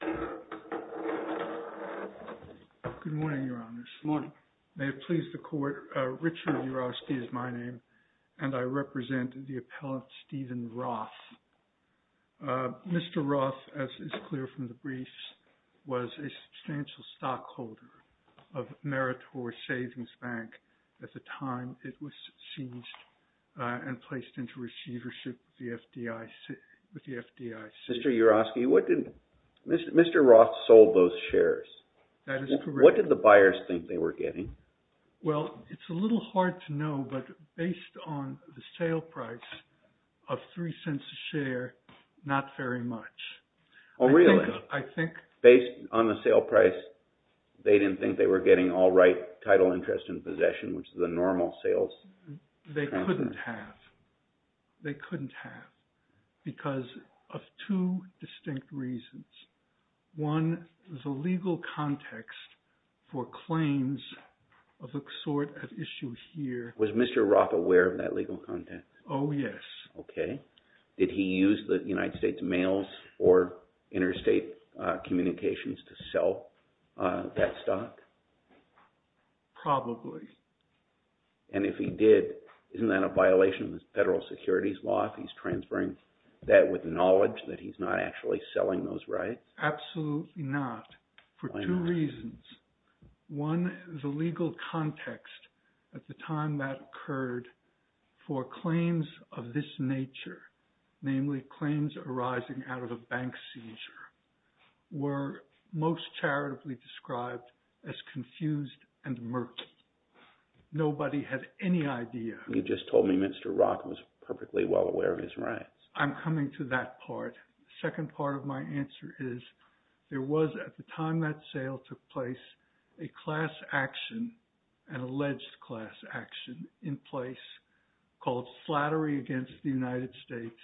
Good morning, Your Honors. May it please the Court, Richard Urofsky is my name, and I represent the appellant Stephen Roth. Mr. Roth, as is clear from the briefs, was a substantial stockholder of Meritor Savings Bank at the time it was seized and placed into receivership with the Mr. Roth sold those shares. That is correct. What did the buyers think they were getting? Well, it's a little hard to know, but based on the sale price of three cents a share, not very much. Oh really? I think. Based on the sale price, they didn't think they were getting all right title interest in possession, which is the normal sales. They couldn't have. They couldn't One, there's a legal context for claims of a sort at issue here. Was Mr. Roth aware of that legal context? Oh yes. Okay. Did he use the United States mails or interstate communications to sell that stock? Probably. And if he did, isn't that a violation of the federal securities law if he's actually selling those rights? Absolutely not. For two reasons. One, the legal context at the time that occurred for claims of this nature, namely claims arising out of a bank seizure, were most charitably described as confused and murky. Nobody had any idea. You just told me Mr. Roth was not aware of his rights. I'm coming to that part. The second part of my answer is there was, at the time that sale took place, a class action, an alleged class action in place called flattery against the United States.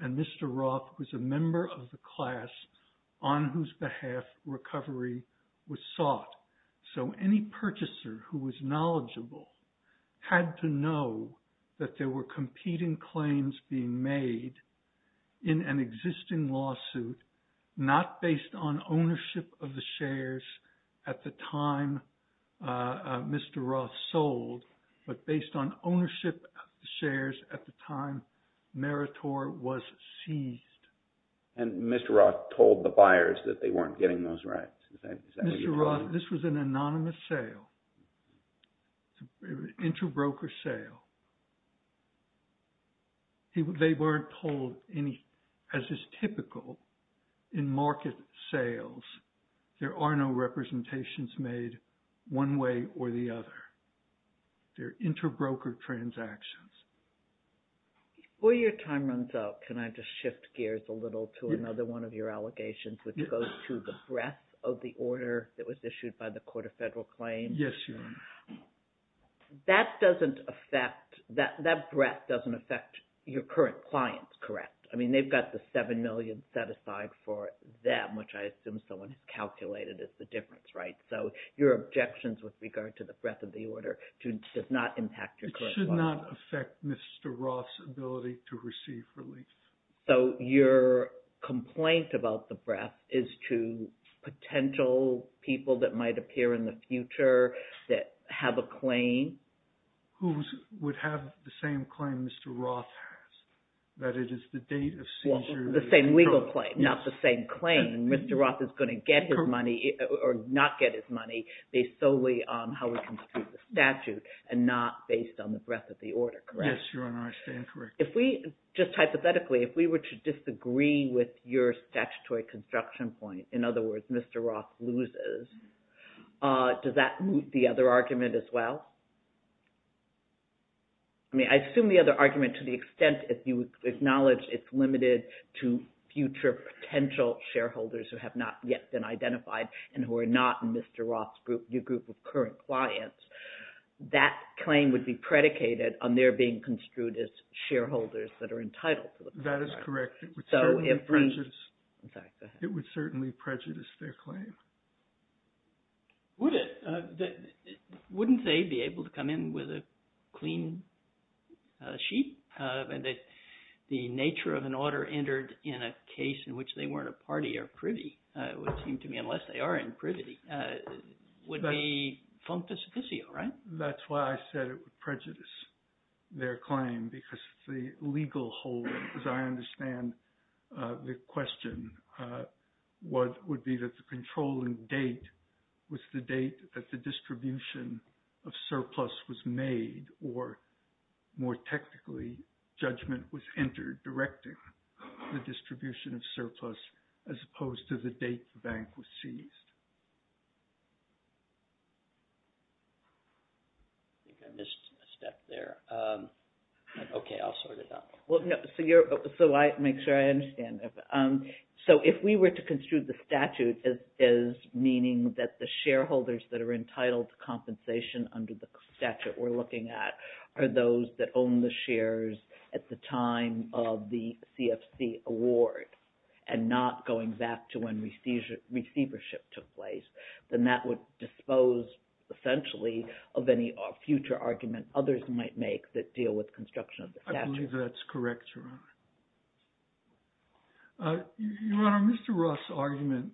And Mr. Roth was a member of the class on whose behalf recovery was sought. So any purchaser who was knowledgeable had to know that there were competing claims being made in an existing lawsuit, not based on ownership of the shares at the time Mr. Roth sold, but based on ownership of the shares at the time Meritor was seized. And Mr. Roth told the buyers that they weren't getting those rights? Mr. Roth, this was an anonymous sale. It was an interbroker sale. They weren't told any, as is typical in market sales, there are no representations made one way or the other. They're interbroker transactions. Before your time runs out, can I just shift gears a little to another one of your allegations, which goes to the breadth of the order that was issued by the Court of Federal Claims? Yes, you may. That doesn't affect, that breadth doesn't affect your current clients, correct? I mean, they've got the $7 million set aside for them, which I assume someone has calculated as the difference, right? So your objections with regard to the breadth of the order does not impact your current clients. It should not affect Mr. Roth's ability to receive relief. So your complaint about the breadth is to potential people that might appear in the future that have a claim? Who would have the same claim Mr. Roth has, that it is the date of seizure. The same legal claim, not the same claim. Mr. Roth is going to get his money or not get his money based solely on how it comes to the statute and not based on the breadth of the order, correct? Yes, Your Honor, I stand corrected. Just hypothetically, if we were to disagree with your statutory construction point, in other words, Mr. Roth loses, does that move the other argument as well? I mean, I assume the other argument to the extent if you acknowledge it's limited to future potential shareholders who have not yet been identified and who are not in Mr. Roth's group, your group of current clients, that claim would be predicated on their being construed as shareholders that are entitled to the contract. That is correct. It would certainly prejudice their claim. Wouldn't they be able to come in with a clean sheet? The nature of an order entered in a case in which they weren't a party or privy, it would seem to me, unless they are in privity, would be functus officio, right? That's why I said it would prejudice their claim because the legal hold, as I understand the question, would be that the controlling date was the date that the distribution of surplus was made or, more technically, judgment was entered directing the distribution of surplus as opposed to the date the bank was seized. I think I missed a step there. Okay, I'll sort it out. Well, no, so make sure I understand. So if we were to construe the statute as meaning that the shareholders that are entitled to compensation under the statute we're looking at are those that own the shares at the time of the CFC award and not going back to when receivership took place, then that would dispose, essentially, of any future argument others might make that deal with construction of the statute. I believe that's correct, Your Honor. Your Honor, Mr. Ross' argument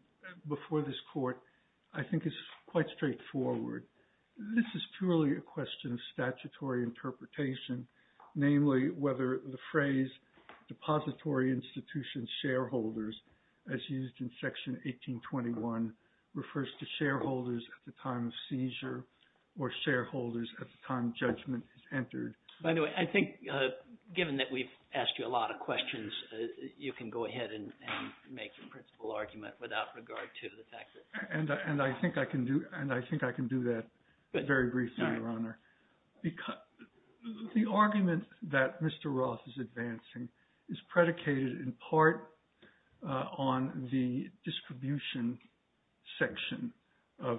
before this court, I think, is quite straightforward. This is purely a question of statutory interpretation, namely whether the phrase depository institution shareholders, as used in Section 1821, refers to shareholders at the time of seizure or shareholders at the time judgment is entered. By the way, I think, given that we've asked you a lot of questions, you can go ahead and make your principal argument without regard to the fact that... And I think I can do that very briefly, Your Honor. The argument that Mr. Ross is advancing is predicated in part on the distribution section of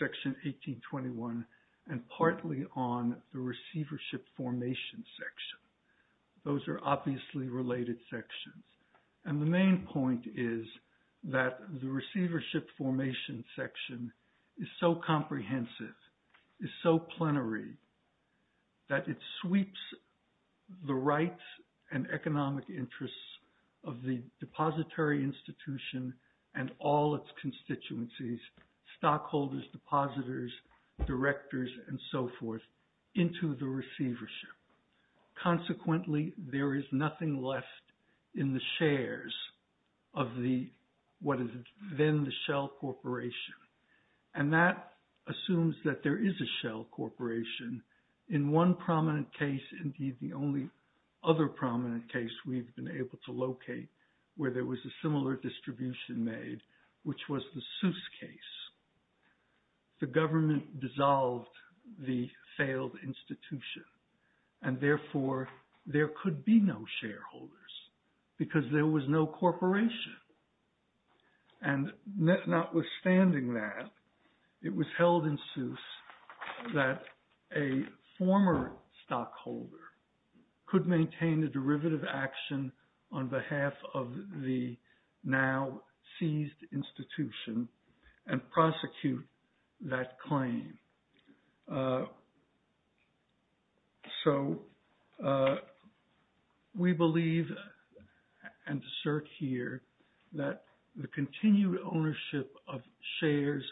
Section 1821 and partly on the receivership formation section. Those are obviously related sections. And the main point is that the receivership formation section is so comprehensive, is so plenary that it sweeps the rights and economic interests of the depository institution and all its constituencies, stockholders, depositors, directors, and so forth, into the receivership. Consequently, there is nothing left in the shares of what is then the Shell Corporation. And that assumes that there is a Shell Corporation in one prominent case. Indeed, the only other prominent case we've been able to locate where there was a similar distribution made, which was the Seuss case. The government dissolved the failed institution. And therefore, there could be no shareholders because there was no corporation. And notwithstanding that, it was held in Seuss that a former stockholder could maintain the derivative action on behalf of the now seized institution and prosecute that claim. So, we believe and assert here that the continued ownership of shares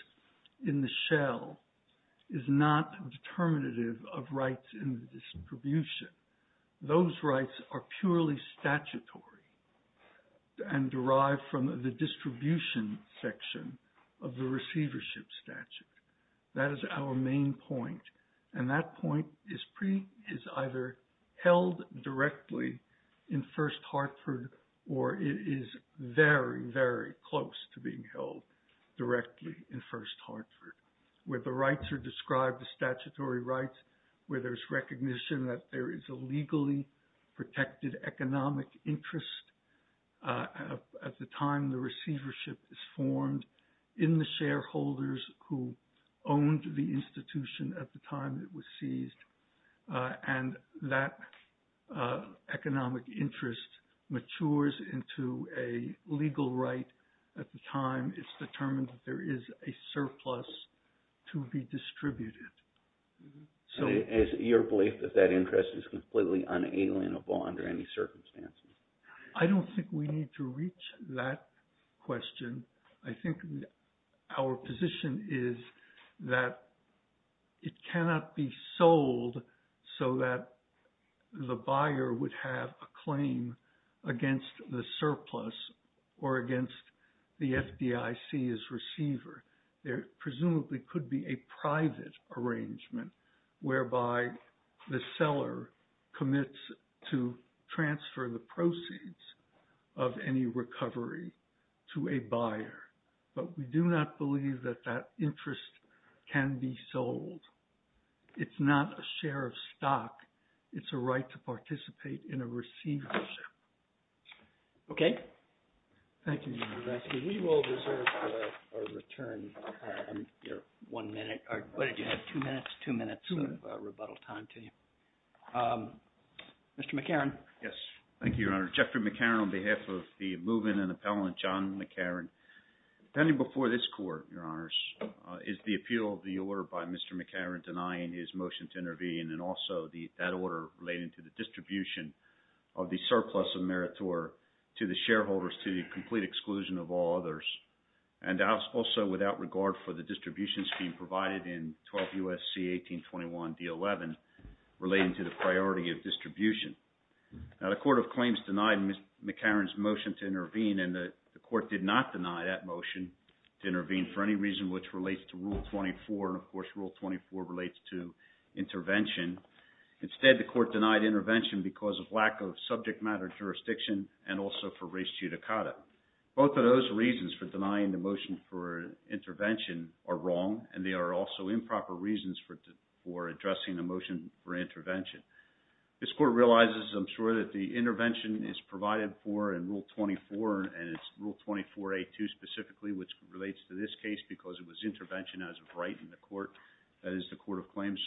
in the Shell is not determinative of rights in the distribution. Those rights are purely statutory and derived from the distribution section of the receivership statute. That is our main point. And that point is either held directly in First Hartford, or it is very, very close to being held directly in First Hartford, where the rights are described as statutory rights, where there's a legally protected economic interest at the time the receivership is formed in the shareholders who owned the institution at the time it was seized. And that economic interest matures into a legal right at the time it's determined that there is a surplus to be distributed. And is your belief that that interest is completely unalienable under any circumstances? I don't think we need to reach that question. I think our position is that it cannot be sold so that the buyer would have a claim against the surplus or against the FDIC's receiver. There presumably could be a private arrangement whereby the seller commits to transfer the proceeds of any recovery to a buyer. But we do not believe that that interest can be sold. It's not a share of stock. It's a right to participate in a receivership. Okay. Thank you, Mr. Vesky. We will reserve our return. One minute, or what did you have, two minutes? Two minutes of rebuttal time to you. Mr. McCarron. Yes. Thank you, Your Honor. Jeffrey McCarron on behalf of the moving and appellant John McCarron. Standing before this court, Your Honors, is the appeal of the order by Mr. McCarron denying his to the shareholders to the complete exclusion of all others and also without regard for the distribution scheme provided in 12 U.S.C. 1821 D11 relating to the priority of distribution. Now the court of claims denied Mr. McCarron's motion to intervene and the court did not deny that motion to intervene for any reason which relates to Rule 24. Of course, Rule 24 relates to and also for res judicata. Both of those reasons for denying the motion for intervention are wrong and they are also improper reasons for addressing the motion for intervention. This court realizes, I'm sure, that the intervention is provided for in Rule 24 and it's Rule 24A2 specifically, which relates to this case because it was intervention as a right in the court, that is the court of claims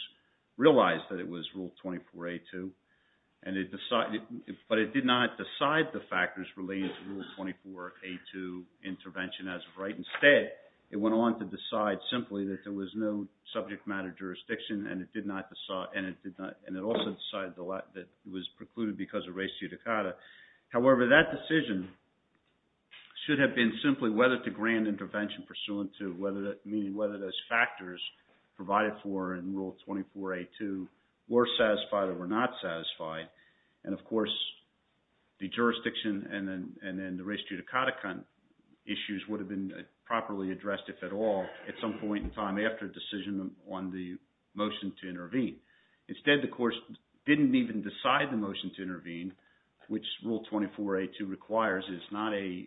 realized that it was Rule 24A2, but it did not decide the factors relating to Rule 24A2 intervention as a right. Instead, it went on to decide simply that there was no subject matter jurisdiction and it also decided that it was precluded because of res judicata. However, that decision should have been simply whether to grant intervention pursuant to meaning whether those factors provided for in Rule 24A2 were satisfied or were not satisfied. And of course, the jurisdiction and then the res judicata issues would have been properly addressed if at all at some point in time after decision on the motion to intervene. Instead, the court didn't even decide the motion to intervene which Rule 24A2 requires. It's not a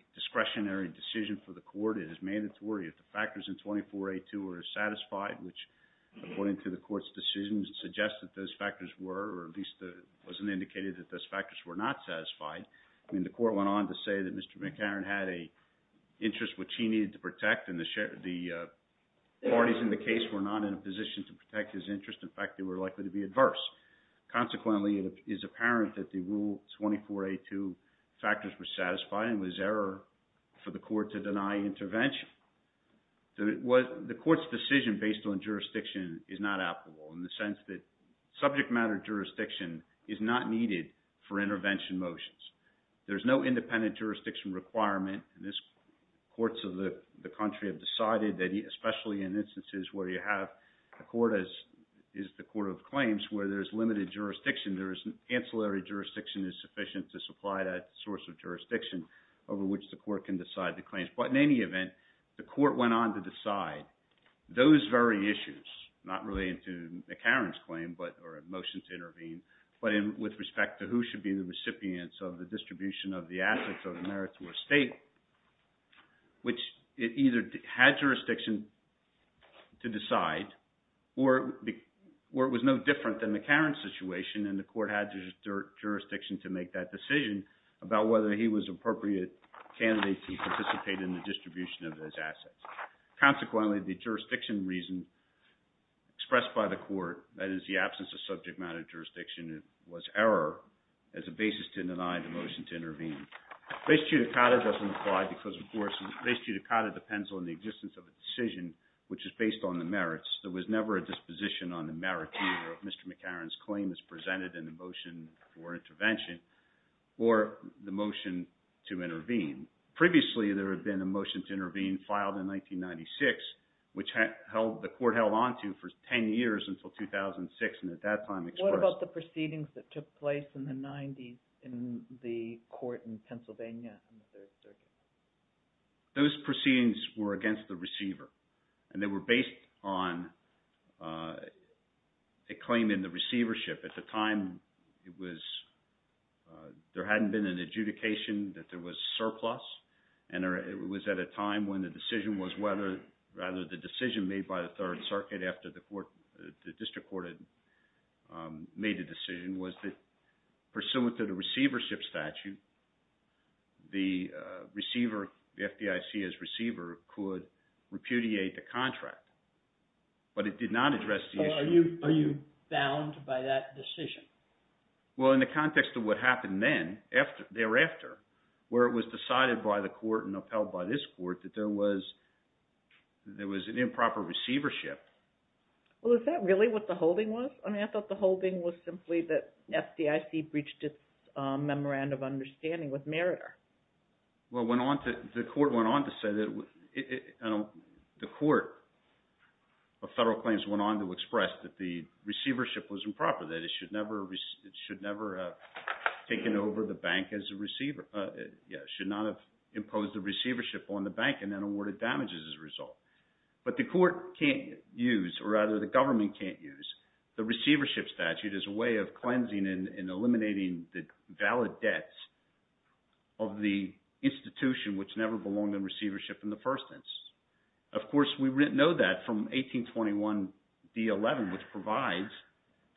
Rule 24A2 were satisfied, which according to the court's decisions suggests that those factors were or at least it wasn't indicated that those factors were not satisfied. I mean, the court went on to say that Mr. McCarran had an interest which he needed to protect and the parties in the case were not in a position to protect his interest. In fact, they were likely to be adverse. Consequently, it is apparent that the Rule 24A2 factors were satisfied and was error for the court to deny intervention. The court's decision based on jurisdiction is not applicable in the sense that subject matter jurisdiction is not needed for intervention motions. There's no independent jurisdiction requirement in this. Courts of the country have decided that especially in instances where you have a court as is the court of claims where there's limited jurisdiction, there is an ancillary jurisdiction is sufficient to supply that source of jurisdiction over which the court can decide the claims. But in any event, the court went on to decide those very issues not related to McCarran's claim but or a motion to intervene but with respect to who should be the recipients of the distribution of the assets of the merits to a state which it either had jurisdiction to decide or it was no different than McCarran's situation and the court had jurisdiction to make that decision about whether he was appropriate candidate to participate in the distribution of those assets. Consequently, the jurisdiction reason expressed by the court that is the absence of subject matter jurisdiction was error as a basis to deny the motion to intervene. Res judicata doesn't apply because, of course, res judicata depends on the existence of a decision which is based on the merits. There was never a disposition on the merits either of McCarran's claim as presented in the motion for intervention or the motion to intervene. Previously, there had been a motion to intervene filed in 1996 which the court held on to for 10 years until 2006 and at that time expressed... What about the proceedings that took place in the 90s in the court in Pennsylvania? Those proceedings were against the receiver and they were based on a claim in the receivership. At the time, it was... There hadn't been an adjudication that there was surplus and it was at a time when the decision was whether... Rather, the decision made by the Third Circuit after the court... The district court had made a decision was that pursuant to the receivership statute, the receiver, the FDIC as receiver could repudiate the contract but it did not address the issue. Are you bound by that decision? Well, in the context of what happened then thereafter where it was decided by the court and upheld by this court that there was an improper receivership. Well, is that really what the holding was? I mean, I thought the holding was simply that FDIC breached its memorandum of understanding with Meritor. Well, the court went on to say that... The court of federal claims went on to express that the receivership was improper, that it should never have taken over the bank as a receiver. Yeah, should not have imposed the receivership on the bank and then awarded damages as a result. But the court can't use or rather the government can't use the receivership statute as a way of the institution which never belonged in receivership in the first instance. Of course, we know that from 1821 D11 which provides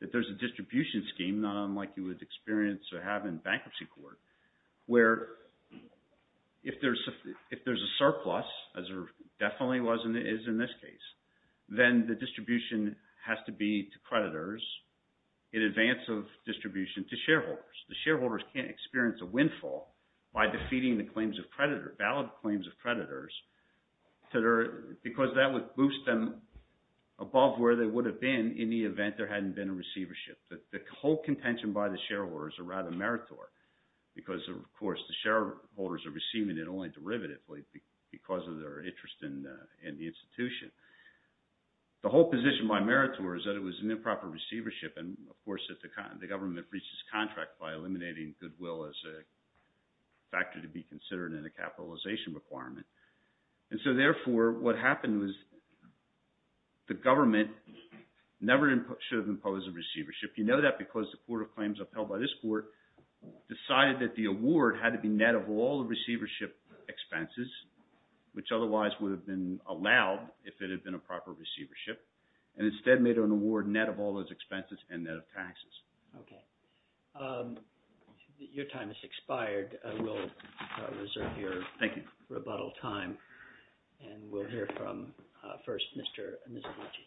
that there's a distribution scheme not unlike you would experience or have in bankruptcy court where if there's a surplus as there definitely was and is in this case, then the distribution has to be to creditors in advance of distribution to defeating the claims of creditor, valid claims of creditors because that would boost them above where they would have been in the event there hadn't been a receivership. The whole contention by the shareholders are rather Meritor because of course the shareholders are receiving it only derivatively because of their interest in the institution. The whole position by Meritor is that it was an improper receivership and of course that the government breaches contract by eliminating goodwill as a factor to be considered in a capitalization requirement. And so therefore, what happened was the government never should have imposed a receivership. You know that because the court of claims upheld by this court decided that the award had to be net of all the receivership expenses which otherwise would have been allowed if it had been a proper receivership and instead made an award net of all those expenses and net of taxes. Okay. Your time has expired. We'll reserve your rebuttal time and we'll hear from first Mr. Mizoguchi.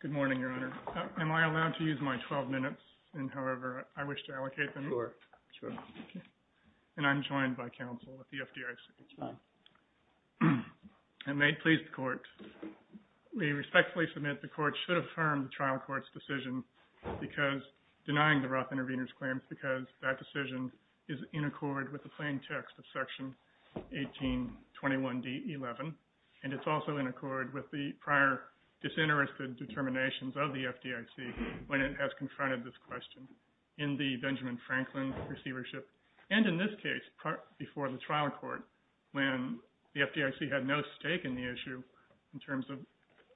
Good morning, Your Honor. Am I allowed to use my 12 minutes and however I wish to allocate them? Sure. Sure. And I'm joined by counsel at the FDIC. That's fine. And may it please the court, we respectfully submit the court should affirm the trial court's decision because denying the Roth intervenors claims because that decision is in accord with the plain text of section 1821 D11 and it's also in accord with the prior disinterested determinations of the FDIC when it has confronted this question in the Benjamin Franklin receivership and in this case before the trial court when the FDIC had no stake in the issue in terms of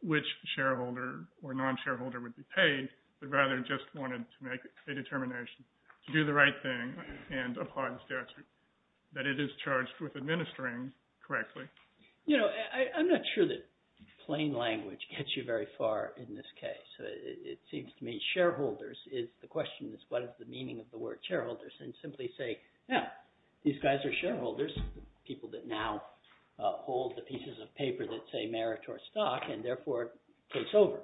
which shareholder or non-shareholder would be paid but rather just wanted to make a determination to do the right thing and apply the statute that it is charged with administering correctly. You know I'm not sure that plain language gets you very far in this case. It seems to me shareholders is the question is what is the meaning of the word shareholders and simply say now these guys are shareholders people that now hold the pieces of paper that say merit or stock and therefore it takes over.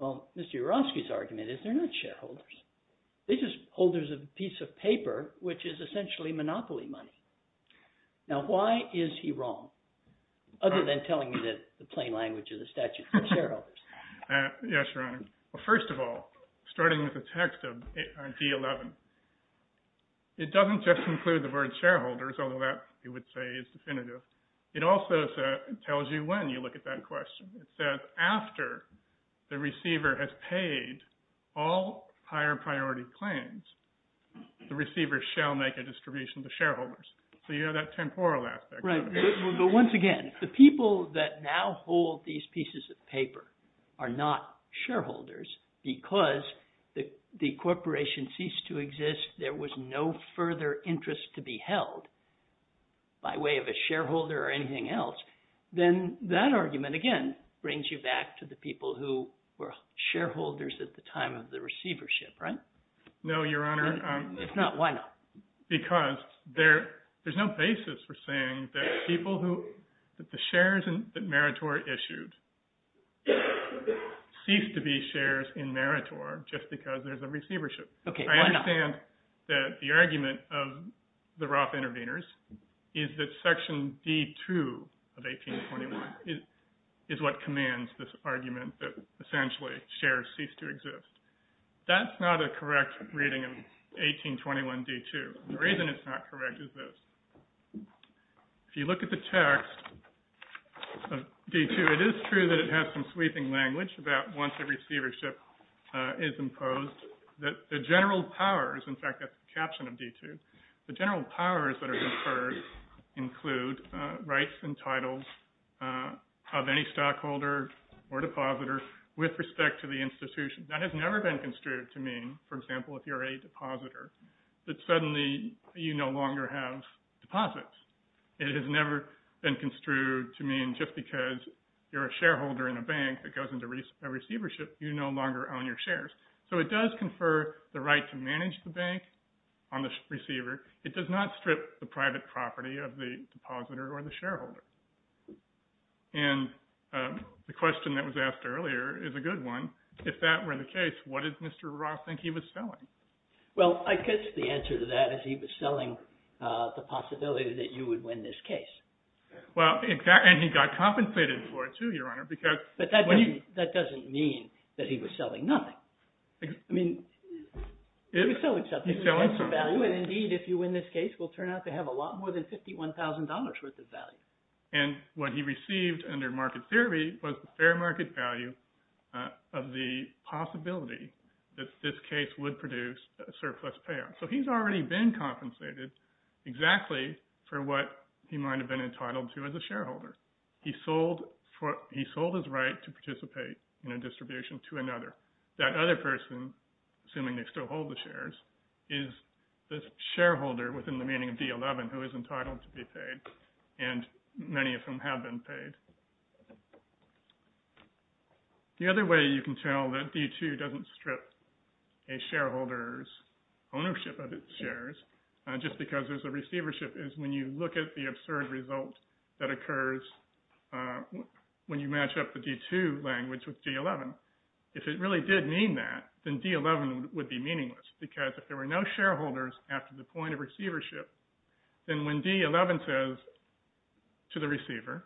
Well Mr. Uroski's argument is they're not shareholders. They're just holders of a piece of paper which is essentially monopoly money. Now why is he wrong other than telling me that the plain language of the statute for shareholders? Yes your honor. Well first of all starting with the text of D11 it doesn't just include the word shareholders although that you would say is definitive. It also tells you when you look at that question. It says after the receiver has paid all higher priority claims the receiver shall make a distribution to shareholders. So you have that temporal aspect. Right but once again the people that now hold these pieces of paper are not shareholders because the corporation ceased to exist. There was no further interest to be held by way of a shareholder or anything else. Then that argument again brings you back to the people who were shareholders at the time of the receivership. Right? No your honor. If not why not? Because there there's no basis for saying that people who that the shares that Meritor issued cease to be shares in Meritor just because there's a receivership. Okay. I understand that the argument of the Roth intervenors is that section D2 of 1821 is what commands this argument that essentially shares cease to exist. That's not a If you look at the text of D2 it is true that it has some sweeping language about once a receivership is imposed that the general powers in fact that's the caption of D2. The general powers that are conferred include rights and titles of any stockholder or depositor with respect to the institution. That has never been construed to mean for example if you're a depositor that suddenly you no longer have deposits. It has never been construed to mean just because you're a shareholder in a bank that goes into a receivership you no longer own your shares. So it does confer the right to manage the bank on the receiver. It does not strip the private property of the depositor or the shareholder. And the question that was asked earlier is a good one. If that were the case what did Mr. Roth think he was selling? Well I guess the answer to that is he was selling the possibility that you would win this case. Well exactly and he got compensated for it too your honor because But that doesn't mean that he was selling nothing. I mean he was selling something. And indeed if you win this case will turn out to have a lot more than $51,000 worth of value. And what he received under market theory was the fair market value of the possibility that this case would produce a surplus payoff. So he's already been compensated exactly for what he might have been entitled to as a shareholder. He sold his right to participate in a distribution to another. That other person assuming they still hold the shares is the shareholder within the meaning of D11 who is entitled to be paid. And many of whom have been paid. The other way you can tell that D2 doesn't strip a shareholder's ownership of its shares just because there's a receivership is when you look at the absurd result that occurs when you match up the D2 language with D11. If it really did mean that then D11 would be meaningless because if there were no shareholders after the point of receivership then when D11 says to the receiver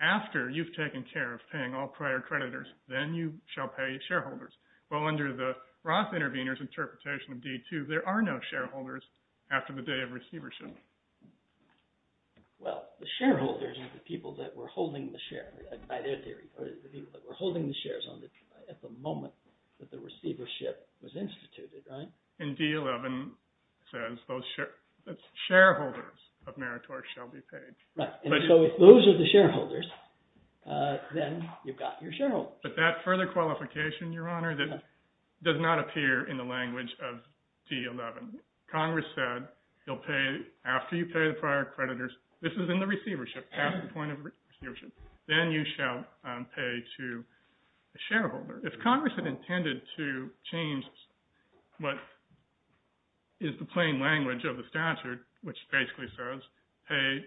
after you've taken care of paying all prior creditors then you shall pay shareholders. Well under the Roth intervenors interpretation of D2 there are no shareholders after the day of receivership. Well the shareholders are the people that were holding the share by their theory or the people that were holding the shares at the moment that the receivership was instituted right? And D11 says those shareholders of Meritorious shall be paid. Right and so if those are the shareholders then you've got your shareholders. But that further qualification your honor that does not appear in the language of D11. Congress said you'll pay after you pay the prior creditors this is in the receivership at the point of receivership then you shall pay to a shareholder. If Congress had intended to change what is the plain language of the statute which basically says pay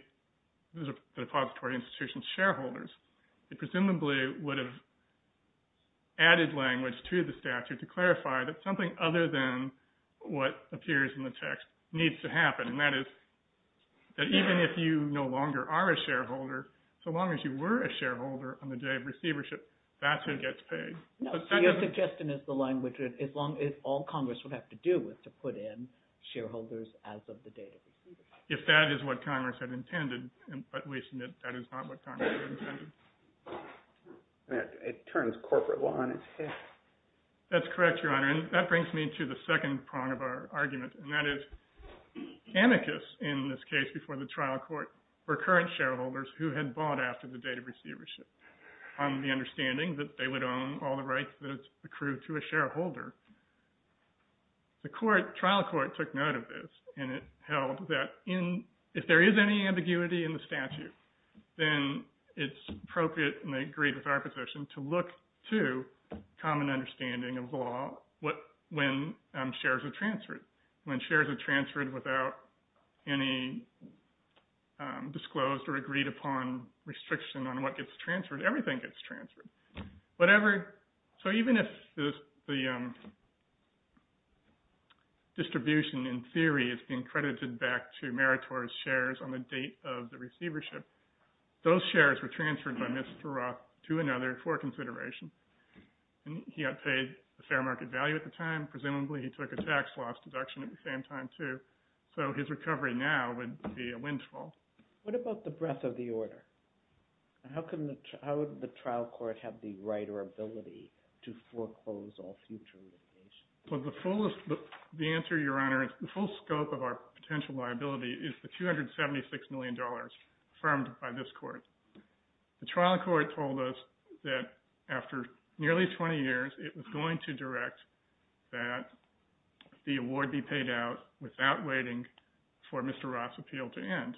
the depository institution's shareholders it presumably would have added language to the statute to clarify that something other than what appears in the text needs to happen and that is that even if you no longer are a shareholder so long as you were a your suggestion is the language as long as all Congress would have to do with to put in shareholders as of the date of if that is what Congress had intended and at least that is not what Congress had intended. It turns corporate law on its head. That's correct your honor and that brings me to the second prong of our argument and that is amicus in this case before the trial court were current shareholders who had bought after the date of receivership on the understanding that they would own all the rights that's accrued to a shareholder the court trial court took note of this and it held that in if there is any ambiguity in the statute then it's appropriate and they agreed with our position to look to common understanding of law what when shares are transferred when shares are transferred without any disclosed or agreed upon restriction on what gets transferred everything gets transferred whatever so even if the distribution in theory is being credited back to meritorious shares on the date of the receivership those shares were transferred by Mr. Roth to another for consideration and he got paid the fair market value at the time presumably he took a tax loss deduction at the same time too so his recovery now would be a windfall. What about the breadth of the order? How can the how would the trial court have the right or ability to foreclose on future well the fullest the answer your honor is the full scope of our potential liability is the 276 million dollars affirmed by this court the trial court told us that after nearly 20 years it was going to direct that the award be paid out without waiting for Mr. Roth's appeal to end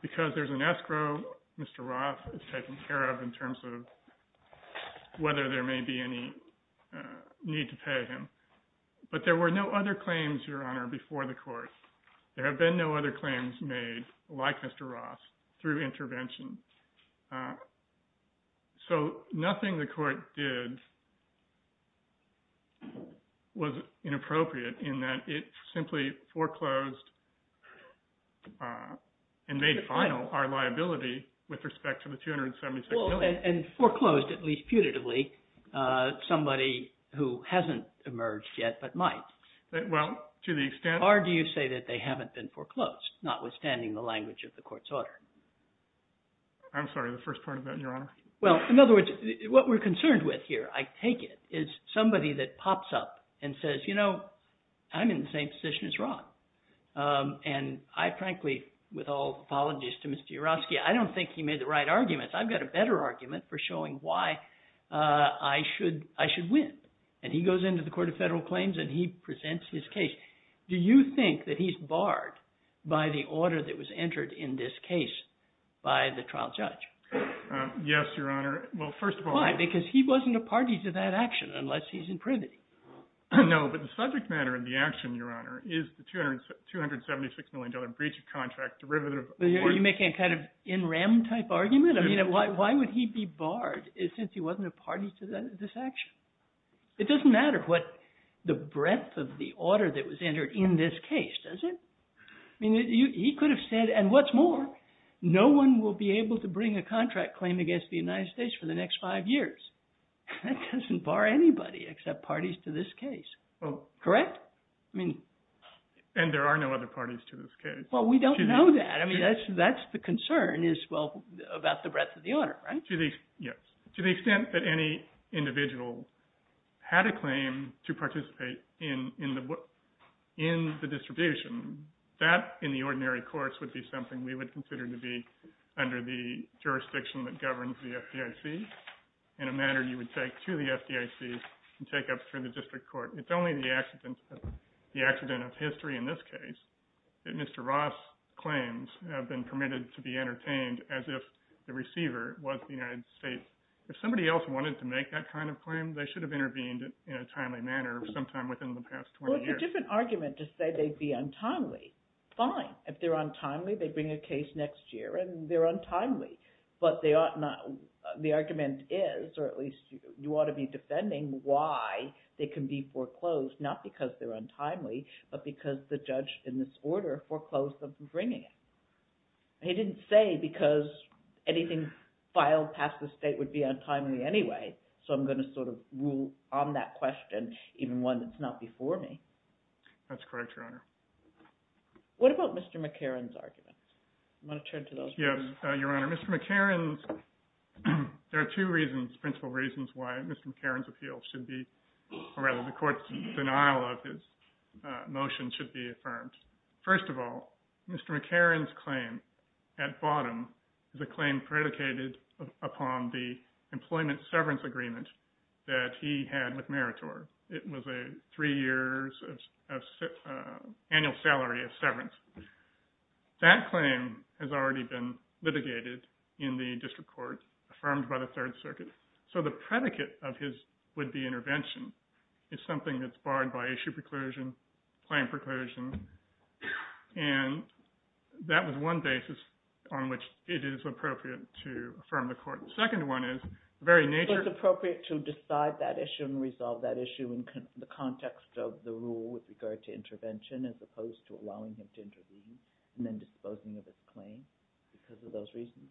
because there's an escrow Mr. Roth is taken care of in terms of whether there may be any need to pay him but there were no other claims your honor before the court there have been no other claims made like Mr. Roth through intervention so nothing the court did was inappropriate in that it simply foreclosed and made final our liability with respect to the 276 and foreclosed at least putatively somebody who hasn't emerged yet but might well to the extent or do you say that they haven't been foreclosed notwithstanding the language of the court's order I'm sorry the first part of that your honor well in other words what we're concerned with here I take it is somebody that pops up and with all apologies to Mr. you're asking I don't think he made the right arguments I've got a better argument for showing why I should I should win and he goes into the court of federal claims and he presents his case do you think that he's barred by the order that was entered in this case by the trial judge yes your honor well first of all why because he wasn't a party to that action unless he's in privity no but the subject matter in the action your honor is the 200 276 million breach of contract derivative you're making a kind of in rem type argument I mean why would he be barred is since he wasn't a party to this action it doesn't matter what the breadth of the order that was entered in this case does it I mean you he could have said and what's more no one will be able to bring a contract claim against the United States for the next five years that doesn't bar anybody except parties to this case well correct I mean and there are no other parties to this case well we don't know that I mean that's that's the concern is well about the breadth of the order right to the yes to the extent that any individual had a claim to participate in in the in the distribution that in the ordinary course would be something we would consider to be under the jurisdiction that governs the FDIC in a manner you would take to the FDIC and take up for the district court it's only the accident the accident of history in this case that Mr. Ross claims have been permitted to be entertained as if the receiver was the United States if somebody else wanted to make that kind of claim they should have intervened in a timely manner sometime within the past 20 years different argument to say they'd be untimely fine if they're untimely they bring a case next year and they're untimely but they ought not the argument is or at least you ought to be defending why they can be foreclosed not because they're untimely but because the judge in this order foreclosed them from bringing it he didn't say because anything filed past the state would be untimely anyway so I'm going to sort of rule on that question even one that's not before me that's correct your honor what about Mr. McCarran's argument I want to turn to those yes your honor Mr. McCarran's there are two reasons principal reasons why Mr. McCarran's appeal should be or rather the court's denial of his motion should be affirmed first of all Mr. McCarran's claim at bottom is a claim predicated upon the employment severance agreement that he had with in the district court affirmed by the third circuit so the predicate of his would-be intervention is something that's barred by issue preclusion claim preclusion and that was one basis on which it is appropriate to affirm the court second one is the very nature it's appropriate to decide that issue and resolve that issue in the context of the rule with regard to intervention as opposed to allowing him to intervene and then disposing of his claim because of those reasons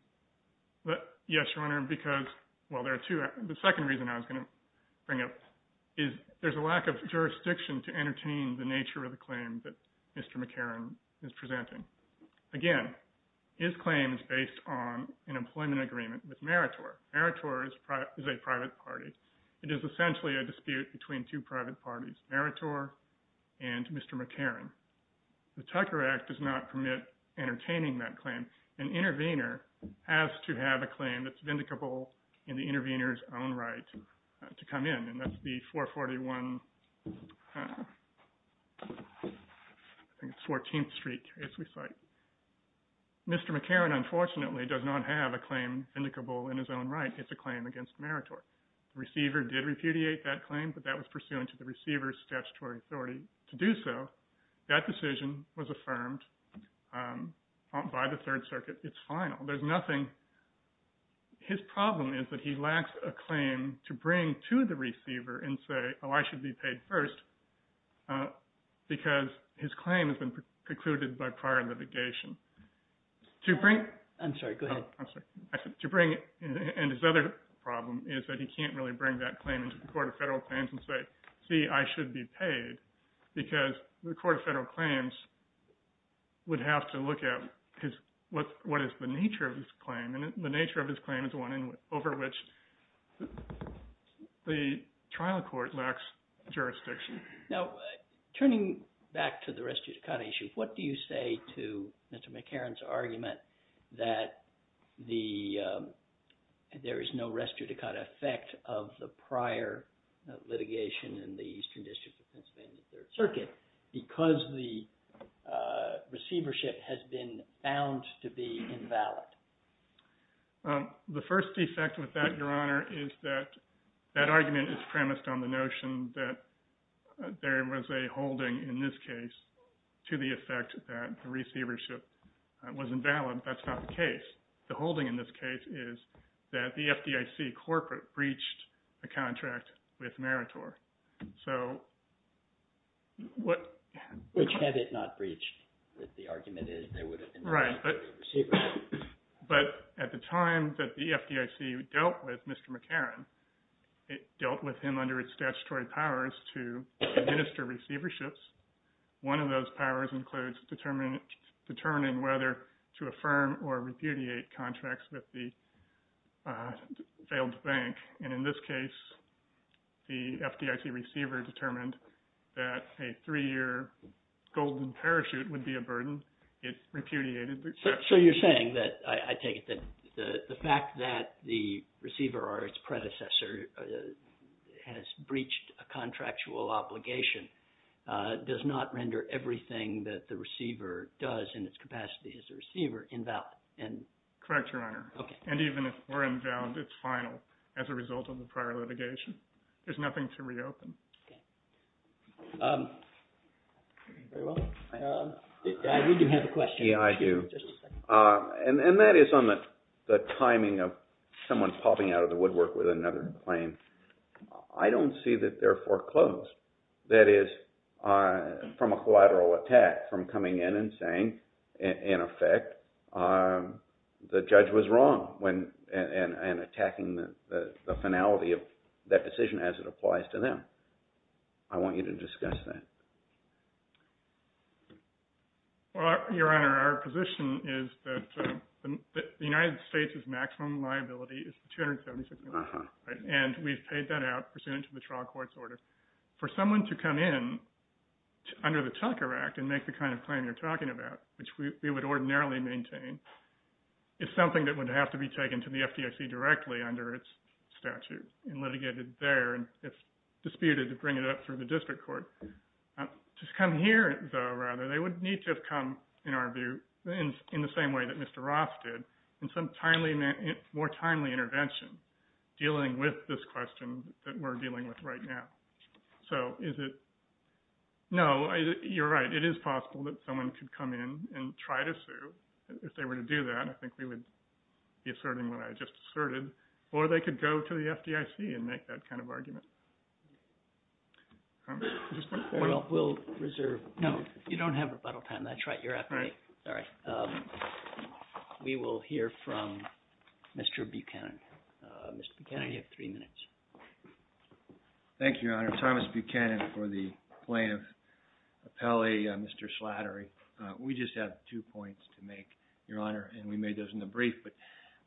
but yes your honor because well there are two the second reason I was going to bring up is there's a lack of jurisdiction to entertain the nature of the claim that Mr. McCarran is presenting again his claim is based on an employment agreement with meritor meritorious product is a private party it is essentially a dispute between two private parties meritor and Mr. McCarran the Tucker Act does not permit entertaining that claim an intervener has to have a claim that's vindicable in the intervener's own right to come in and that's the 441 I think it's 14th street case we cite Mr. McCarran unfortunately does not have a claim vindicable in his own right it's a claim against meritor receiver did repudiate that claim but that was pursuant to the receiver's statutory authority to do so that decision was affirmed by the third circuit it's final there's nothing his problem is that he lacks a claim to bring to the receiver and say oh I should be paid first because his claim has been precluded by prior litigation to bring I'm sorry go ahead I'm he can't really bring that claim into the court of federal claims and say see I should be paid because the court of federal claims would have to look at because what what is the nature of this claim and the nature of this claim is one in over which the trial court lacks jurisdiction now turning back to the rest of the kind of issue what do you say to Mr. McCarran's argument that the there is no rest to the kind of effect of the prior litigation in the eastern district of pennsylvania third circuit because the receivership has been found to be invalid the first defect with that your honor is that that argument is premised on the notion that there was a holding in this case to the effect that the receivership was invalid that's not the the holding in this case is that the FDIC corporate breached the contract with meritor so what which had it not breached that the argument is they would have been right but at the time that the FDIC dealt with Mr. McCarran it dealt with him under its statutory powers to administer receiverships one of those powers includes determining determining whether to affirm or repudiate contracts with the failed bank and in this case the FDIC receiver determined that a three-year golden parachute would be a burden it repudiated so you're saying that I take it that the the fact that the receiver or its predecessor has breached a contractual obligation does not render everything that the receiver does in its capacity as a receiver invalid and correct your honor okay and even if we're inbound it's final as a result of the prior litigation there's nothing to reopen okay um very well um I do have a question yeah I do uh and and that is on the the timing of someone popping out of the woodwork with another claim I don't see that they're closed that is uh from a collateral attack from coming in and saying in effect um the judge was wrong when and and attacking the the finality of that decision as it applies to them I want you to discuss that well your honor our position is that the United States' maximum liability is 276 and we've paid that out pursuant to the trial court's order for someone to come in under the Tucker Act and make the kind of claim you're talking about which we would ordinarily maintain is something that would have to be taken to the FDIC directly under its statute and litigated there and it's disputed to bring it up through the district court just come here though rather they would need to have come in our view in in the same way that Mr. Roth did in some timely more timely intervention dealing with this question that we're dealing with right now so is it no you're right it is possible that someone could come in and try to sue if they were to do that I think we would be asserting what I just asserted or they could go to the FDIC and make that kind of argument well we'll reserve no you don't have rebuttal time that's right you're at right all right um Mr. Buchanan uh Mr. Buchanan you have three minutes thank you your honor Thomas Buchanan for the plaintiff appellee uh Mr. Slattery uh we just have two points to make your honor and we made those in the brief but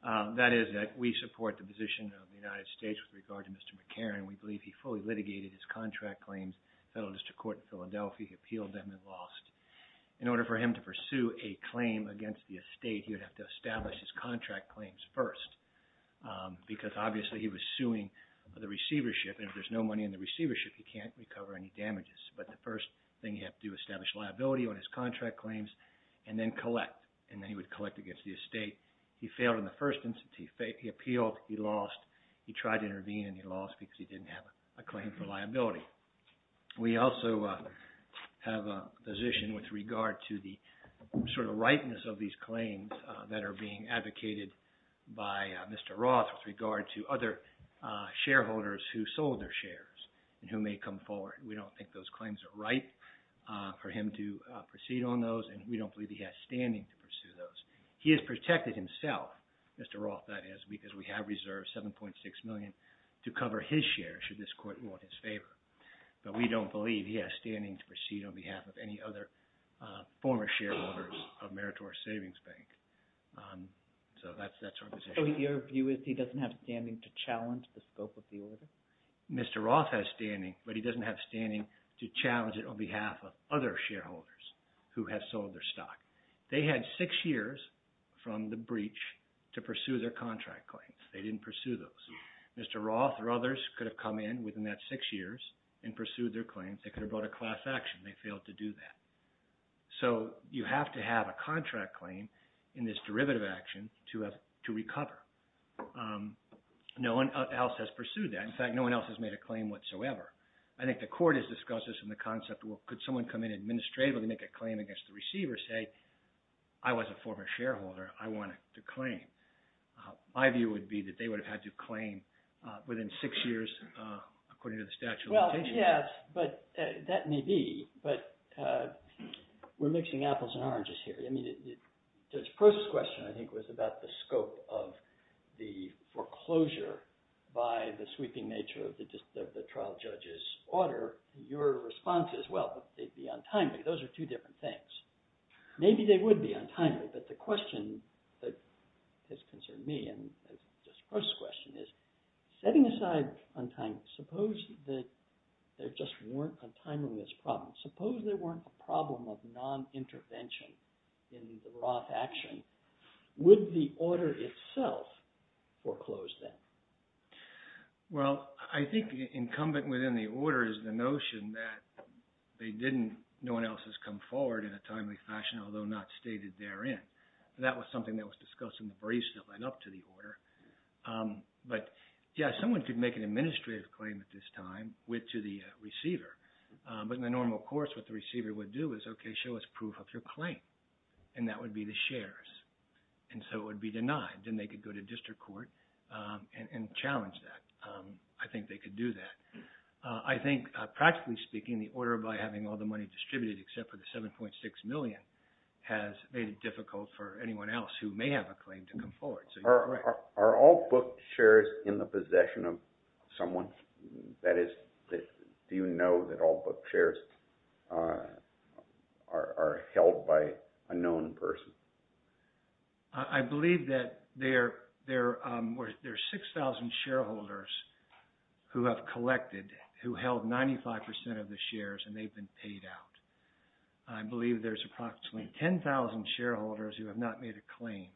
uh that is that we support the position of the United States with regard to Mr. McCarran we believe he fully litigated his contract claims federal district court in Philadelphia he appealed them and lost in order for him to pursue a claim against the estate he would have to establish his contract claims first because obviously he was suing the receivership and if there's no money in the receivership he can't recover any damages but the first thing you have to do establish liability on his contract claims and then collect and then he would collect against the estate he failed in the first instance he failed he appealed he lost he tried to intervene and he lost because he didn't have a claim for liability we also have a position with regard to the sort of rightness of these claims that are being advocated by Mr. Roth with regard to other shareholders who sold their shares and who may come forward we don't think those claims are right for him to proceed on those and we don't believe he has standing to pursue those he has protected himself Mr. Roth that is because we have reserved 7.6 million to cover his share should this court rule in his favor but we don't believe he has standing to proceed on behalf of any other former shareholders of Meritorious Savings Bank so that's that's our position. So your view is he doesn't have standing to challenge the scope of the order? Mr. Roth has standing but he doesn't have standing to challenge it on behalf of other shareholders who have sold their stock they had six years from the breach to pursue their contract claims they didn't pursue those Mr. Roth or others could have come in within that six years and pursued their claims they could have brought a class action they failed to do that so you have to have a contract claim in this derivative action to have to recover no one else has pursued that in fact no one else has made a claim whatsoever I think the court has discussed this in the concept well could someone come in administratively make a claim against the receiver say I was a former shareholder I wanted to claim my view would be that they would have had to claim within six years according to the statute well yes but that may be but we're mixing apples and oranges here I mean the first question I think was about the scope of the foreclosure by the sweeping nature of the trial judge's order your response is well they'd be untimely those are two different things maybe they would be untimely but the question that has concerned me and this first question is setting aside untimely suppose that there just weren't a timeless problem suppose there weren't a problem of non-intervention in the Roth action would the order itself foreclose that well I think incumbent within the order is the notion that they didn't no one else has come forward in a timely fashion although not stated therein that was something that was discussed in the briefs that led up to the order but yeah someone could make an administrative claim at this time with to the receiver but in the normal course what the receiver would do is okay show us proof of your claim and that would be the shares and so it would be denied then they could go to district court and challenge that I think they could do that I think practically speaking the order by having all the money distributed except for the 7.6 million has made it difficult for anyone else who may have a claim to come forward so are all book shares in the possession of someone that is do you know that book shares are held by a known person I believe that there there were there's 6,000 shareholders who have collected who held 95 percent of the shares and they've been paid out I believe there's approximately 10,000 shareholders who have not made a claim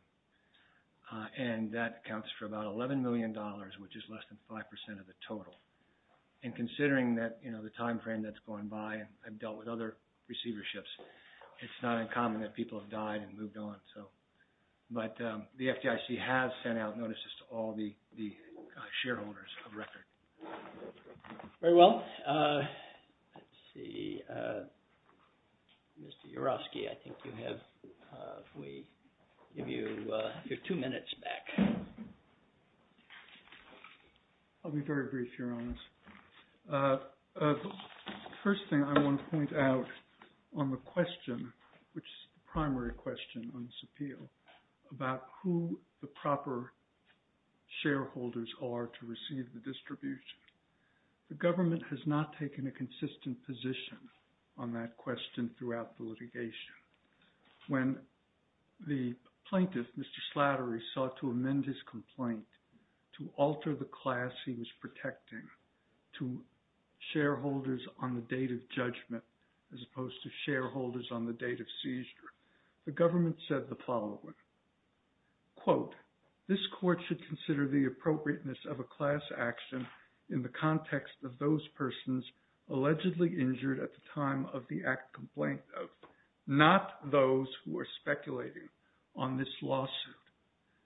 and that accounts for about 11 million dollars which is less than five percent of the total and considering that you know the time frame that's going by and I've dealt with other receiverships it's not uncommon that people have died and moved on so but the FDIC has sent out notices to all the the shareholders of record very well let's see Mr. Uroski I think you have we give you your two minutes back I'll be very brief your honest first thing I want to point out on the question which is the primary question on this appeal about who the proper shareholders are to receive the distribution the government has not taken a consistent position on that question throughout the litigation when the plaintiff Mr. Slattery sought to amend his complaint to alter the class he was protecting to shareholders on the date of judgment as opposed to shareholders on the date of seizure the government said the following quote this court should consider the appropriateness of a class action in the context of those persons allegedly injured at the time of the act complaint of not those who are speculating on this lawsuit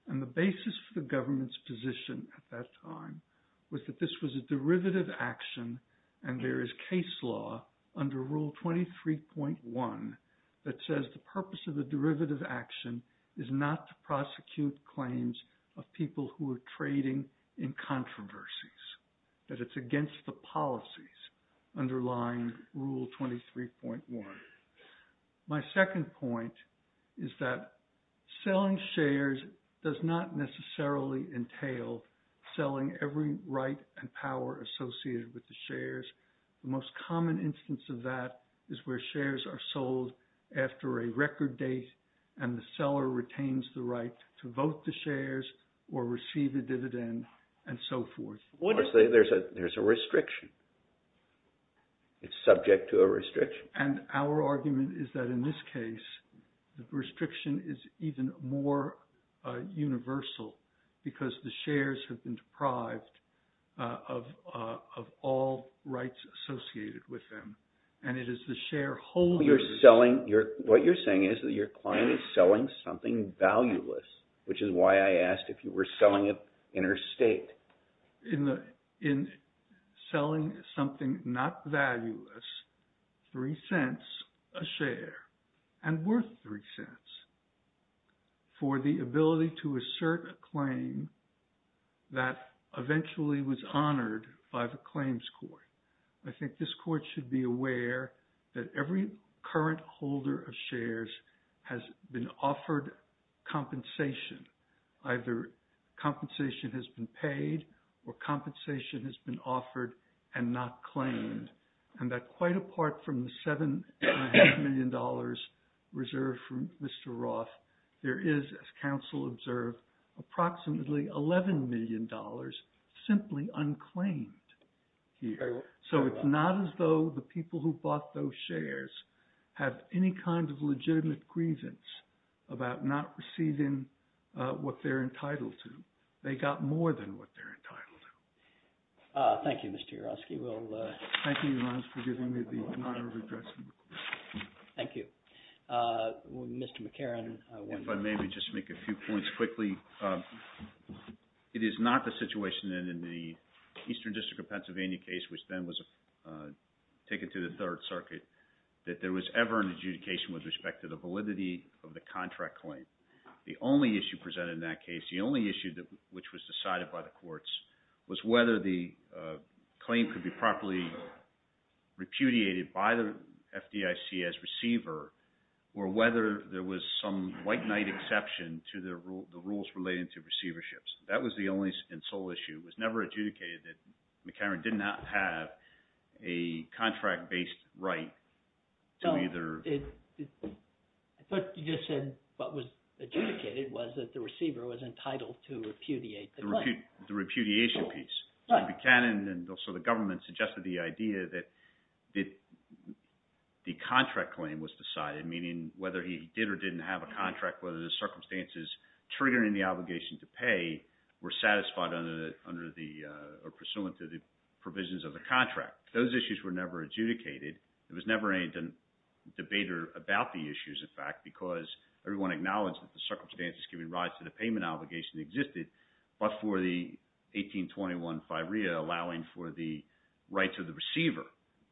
and the basis for the government's position at that time was that this was a derivative action and there is case law under rule 23.1 that says the purpose of the derivative action is not to prosecute claims of people who are trading in controversies that it's against the policies underlying rule 23.1 my second point is that selling shares does not necessarily entail selling every right and power associated with the shares the most common instance of that is where shares are sold after a record date and the seller retains the right to vote the shares or receive the dividend and so forth what I say there's a there's a restriction it's subject to a restriction and our argument is that in this case the restriction is even more universal because the shares have been deprived of all rights associated with them and it is the shareholder you're selling your what you're saying is that your client is selling something valueless which is why I asked if you were selling an interstate in the in selling something not valueless three cents a share and worth three cents for the ability to assert a claim that eventually was honored by the claims court I think this court should be aware that every current holder of shares has been offered compensation either compensation has been paid or compensation has been offered and not claimed and that quite apart from the seven and a half million dollars reserved from Mr. Roth there is as counsel observed approximately 11 million dollars simply unclaimed here so it's not as though the people who bought those shares have any kind of legitimate grievance about not receiving what they're entitled to they got more than what they're entitled to uh thank you Mr. Yourofsky we'll uh thank you for giving me the honor of addressing thank you uh Mr. McCarron if I maybe just make a few points quickly it is not the situation in the eastern district of Pennsylvania case which then was taken to the third circuit that there was ever an adjudication with respect to the validity of the contract claim the only issue presented in that case the only issue that which was decided by the courts was whether the claim could be properly repudiated by the FDIC as receiver or whether there was some white knight exception to the rule the rules relating to receiverships that was the only and sole issue was never adjudicated that McCarron did not have a contract-based right to either it but you just said what was adjudicated was that the receiver was entitled to repudiate the repudiation piece the canon and also the government suggested the idea that that the contract claim was decided meaning whether he did or didn't have a contract whether the circumstances triggering the obligation to pay were satisfied under the under the uh pursuant to the provisions of the contract those issues were never adjudicated it was never a debater about the issues in fact because everyone acknowledged that the payment obligation existed but for the 1821 FIREA allowing for the rights of the receiver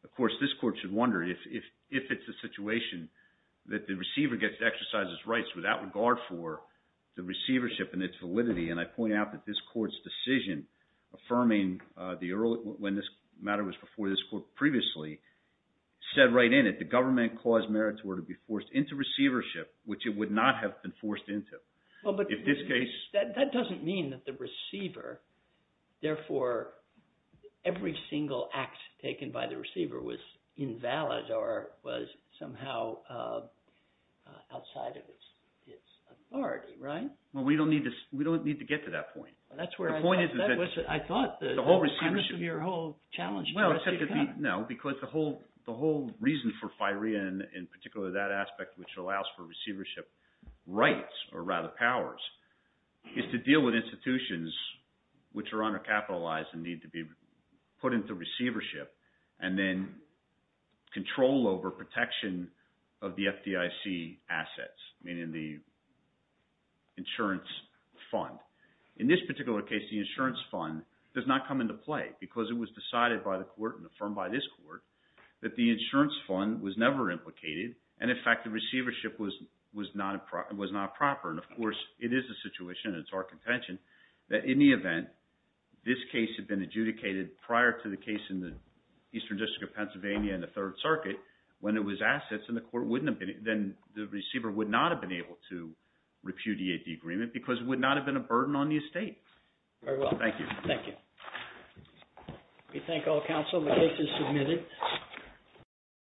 of course this court should wonder if if if it's a situation that the receiver gets exercises rights without regard for the receivership and its validity and I point out that this court's decision affirming uh the early when this matter was before this court previously said right in it the government caused meritor to be forced into receivership which it would not have been forced into well but in this case that that doesn't mean that the receiver therefore every single act taken by the receiver was invalid or was somehow uh uh outside of its its authority right well we don't need to we don't need to get to that point that's where the point is that was I thought the whole receivership of your whole challenge well no because the whole the whole reason for FIREA and in particular that aspect which allows for receivership rights or rather powers is to deal with institutions which are under capitalized and need to be put into receivership and then control over protection of the FDIC assets meaning the insurance fund in this particular case the insurance fund does not come into play because it was decided by the court and affirmed by this court that the insurance fund was never implicated and in fact the receivership was was not a problem was not proper and of course it is a situation and it's our contention that in the event this case had been adjudicated prior to the case in the eastern district of Pennsylvania and the third circuit when it was assets and the court wouldn't have been then the receiver would not have been able to repudiate the agreement because it would not have been a burden on the estate very well thank you thank you we thank all counsel the case is submitted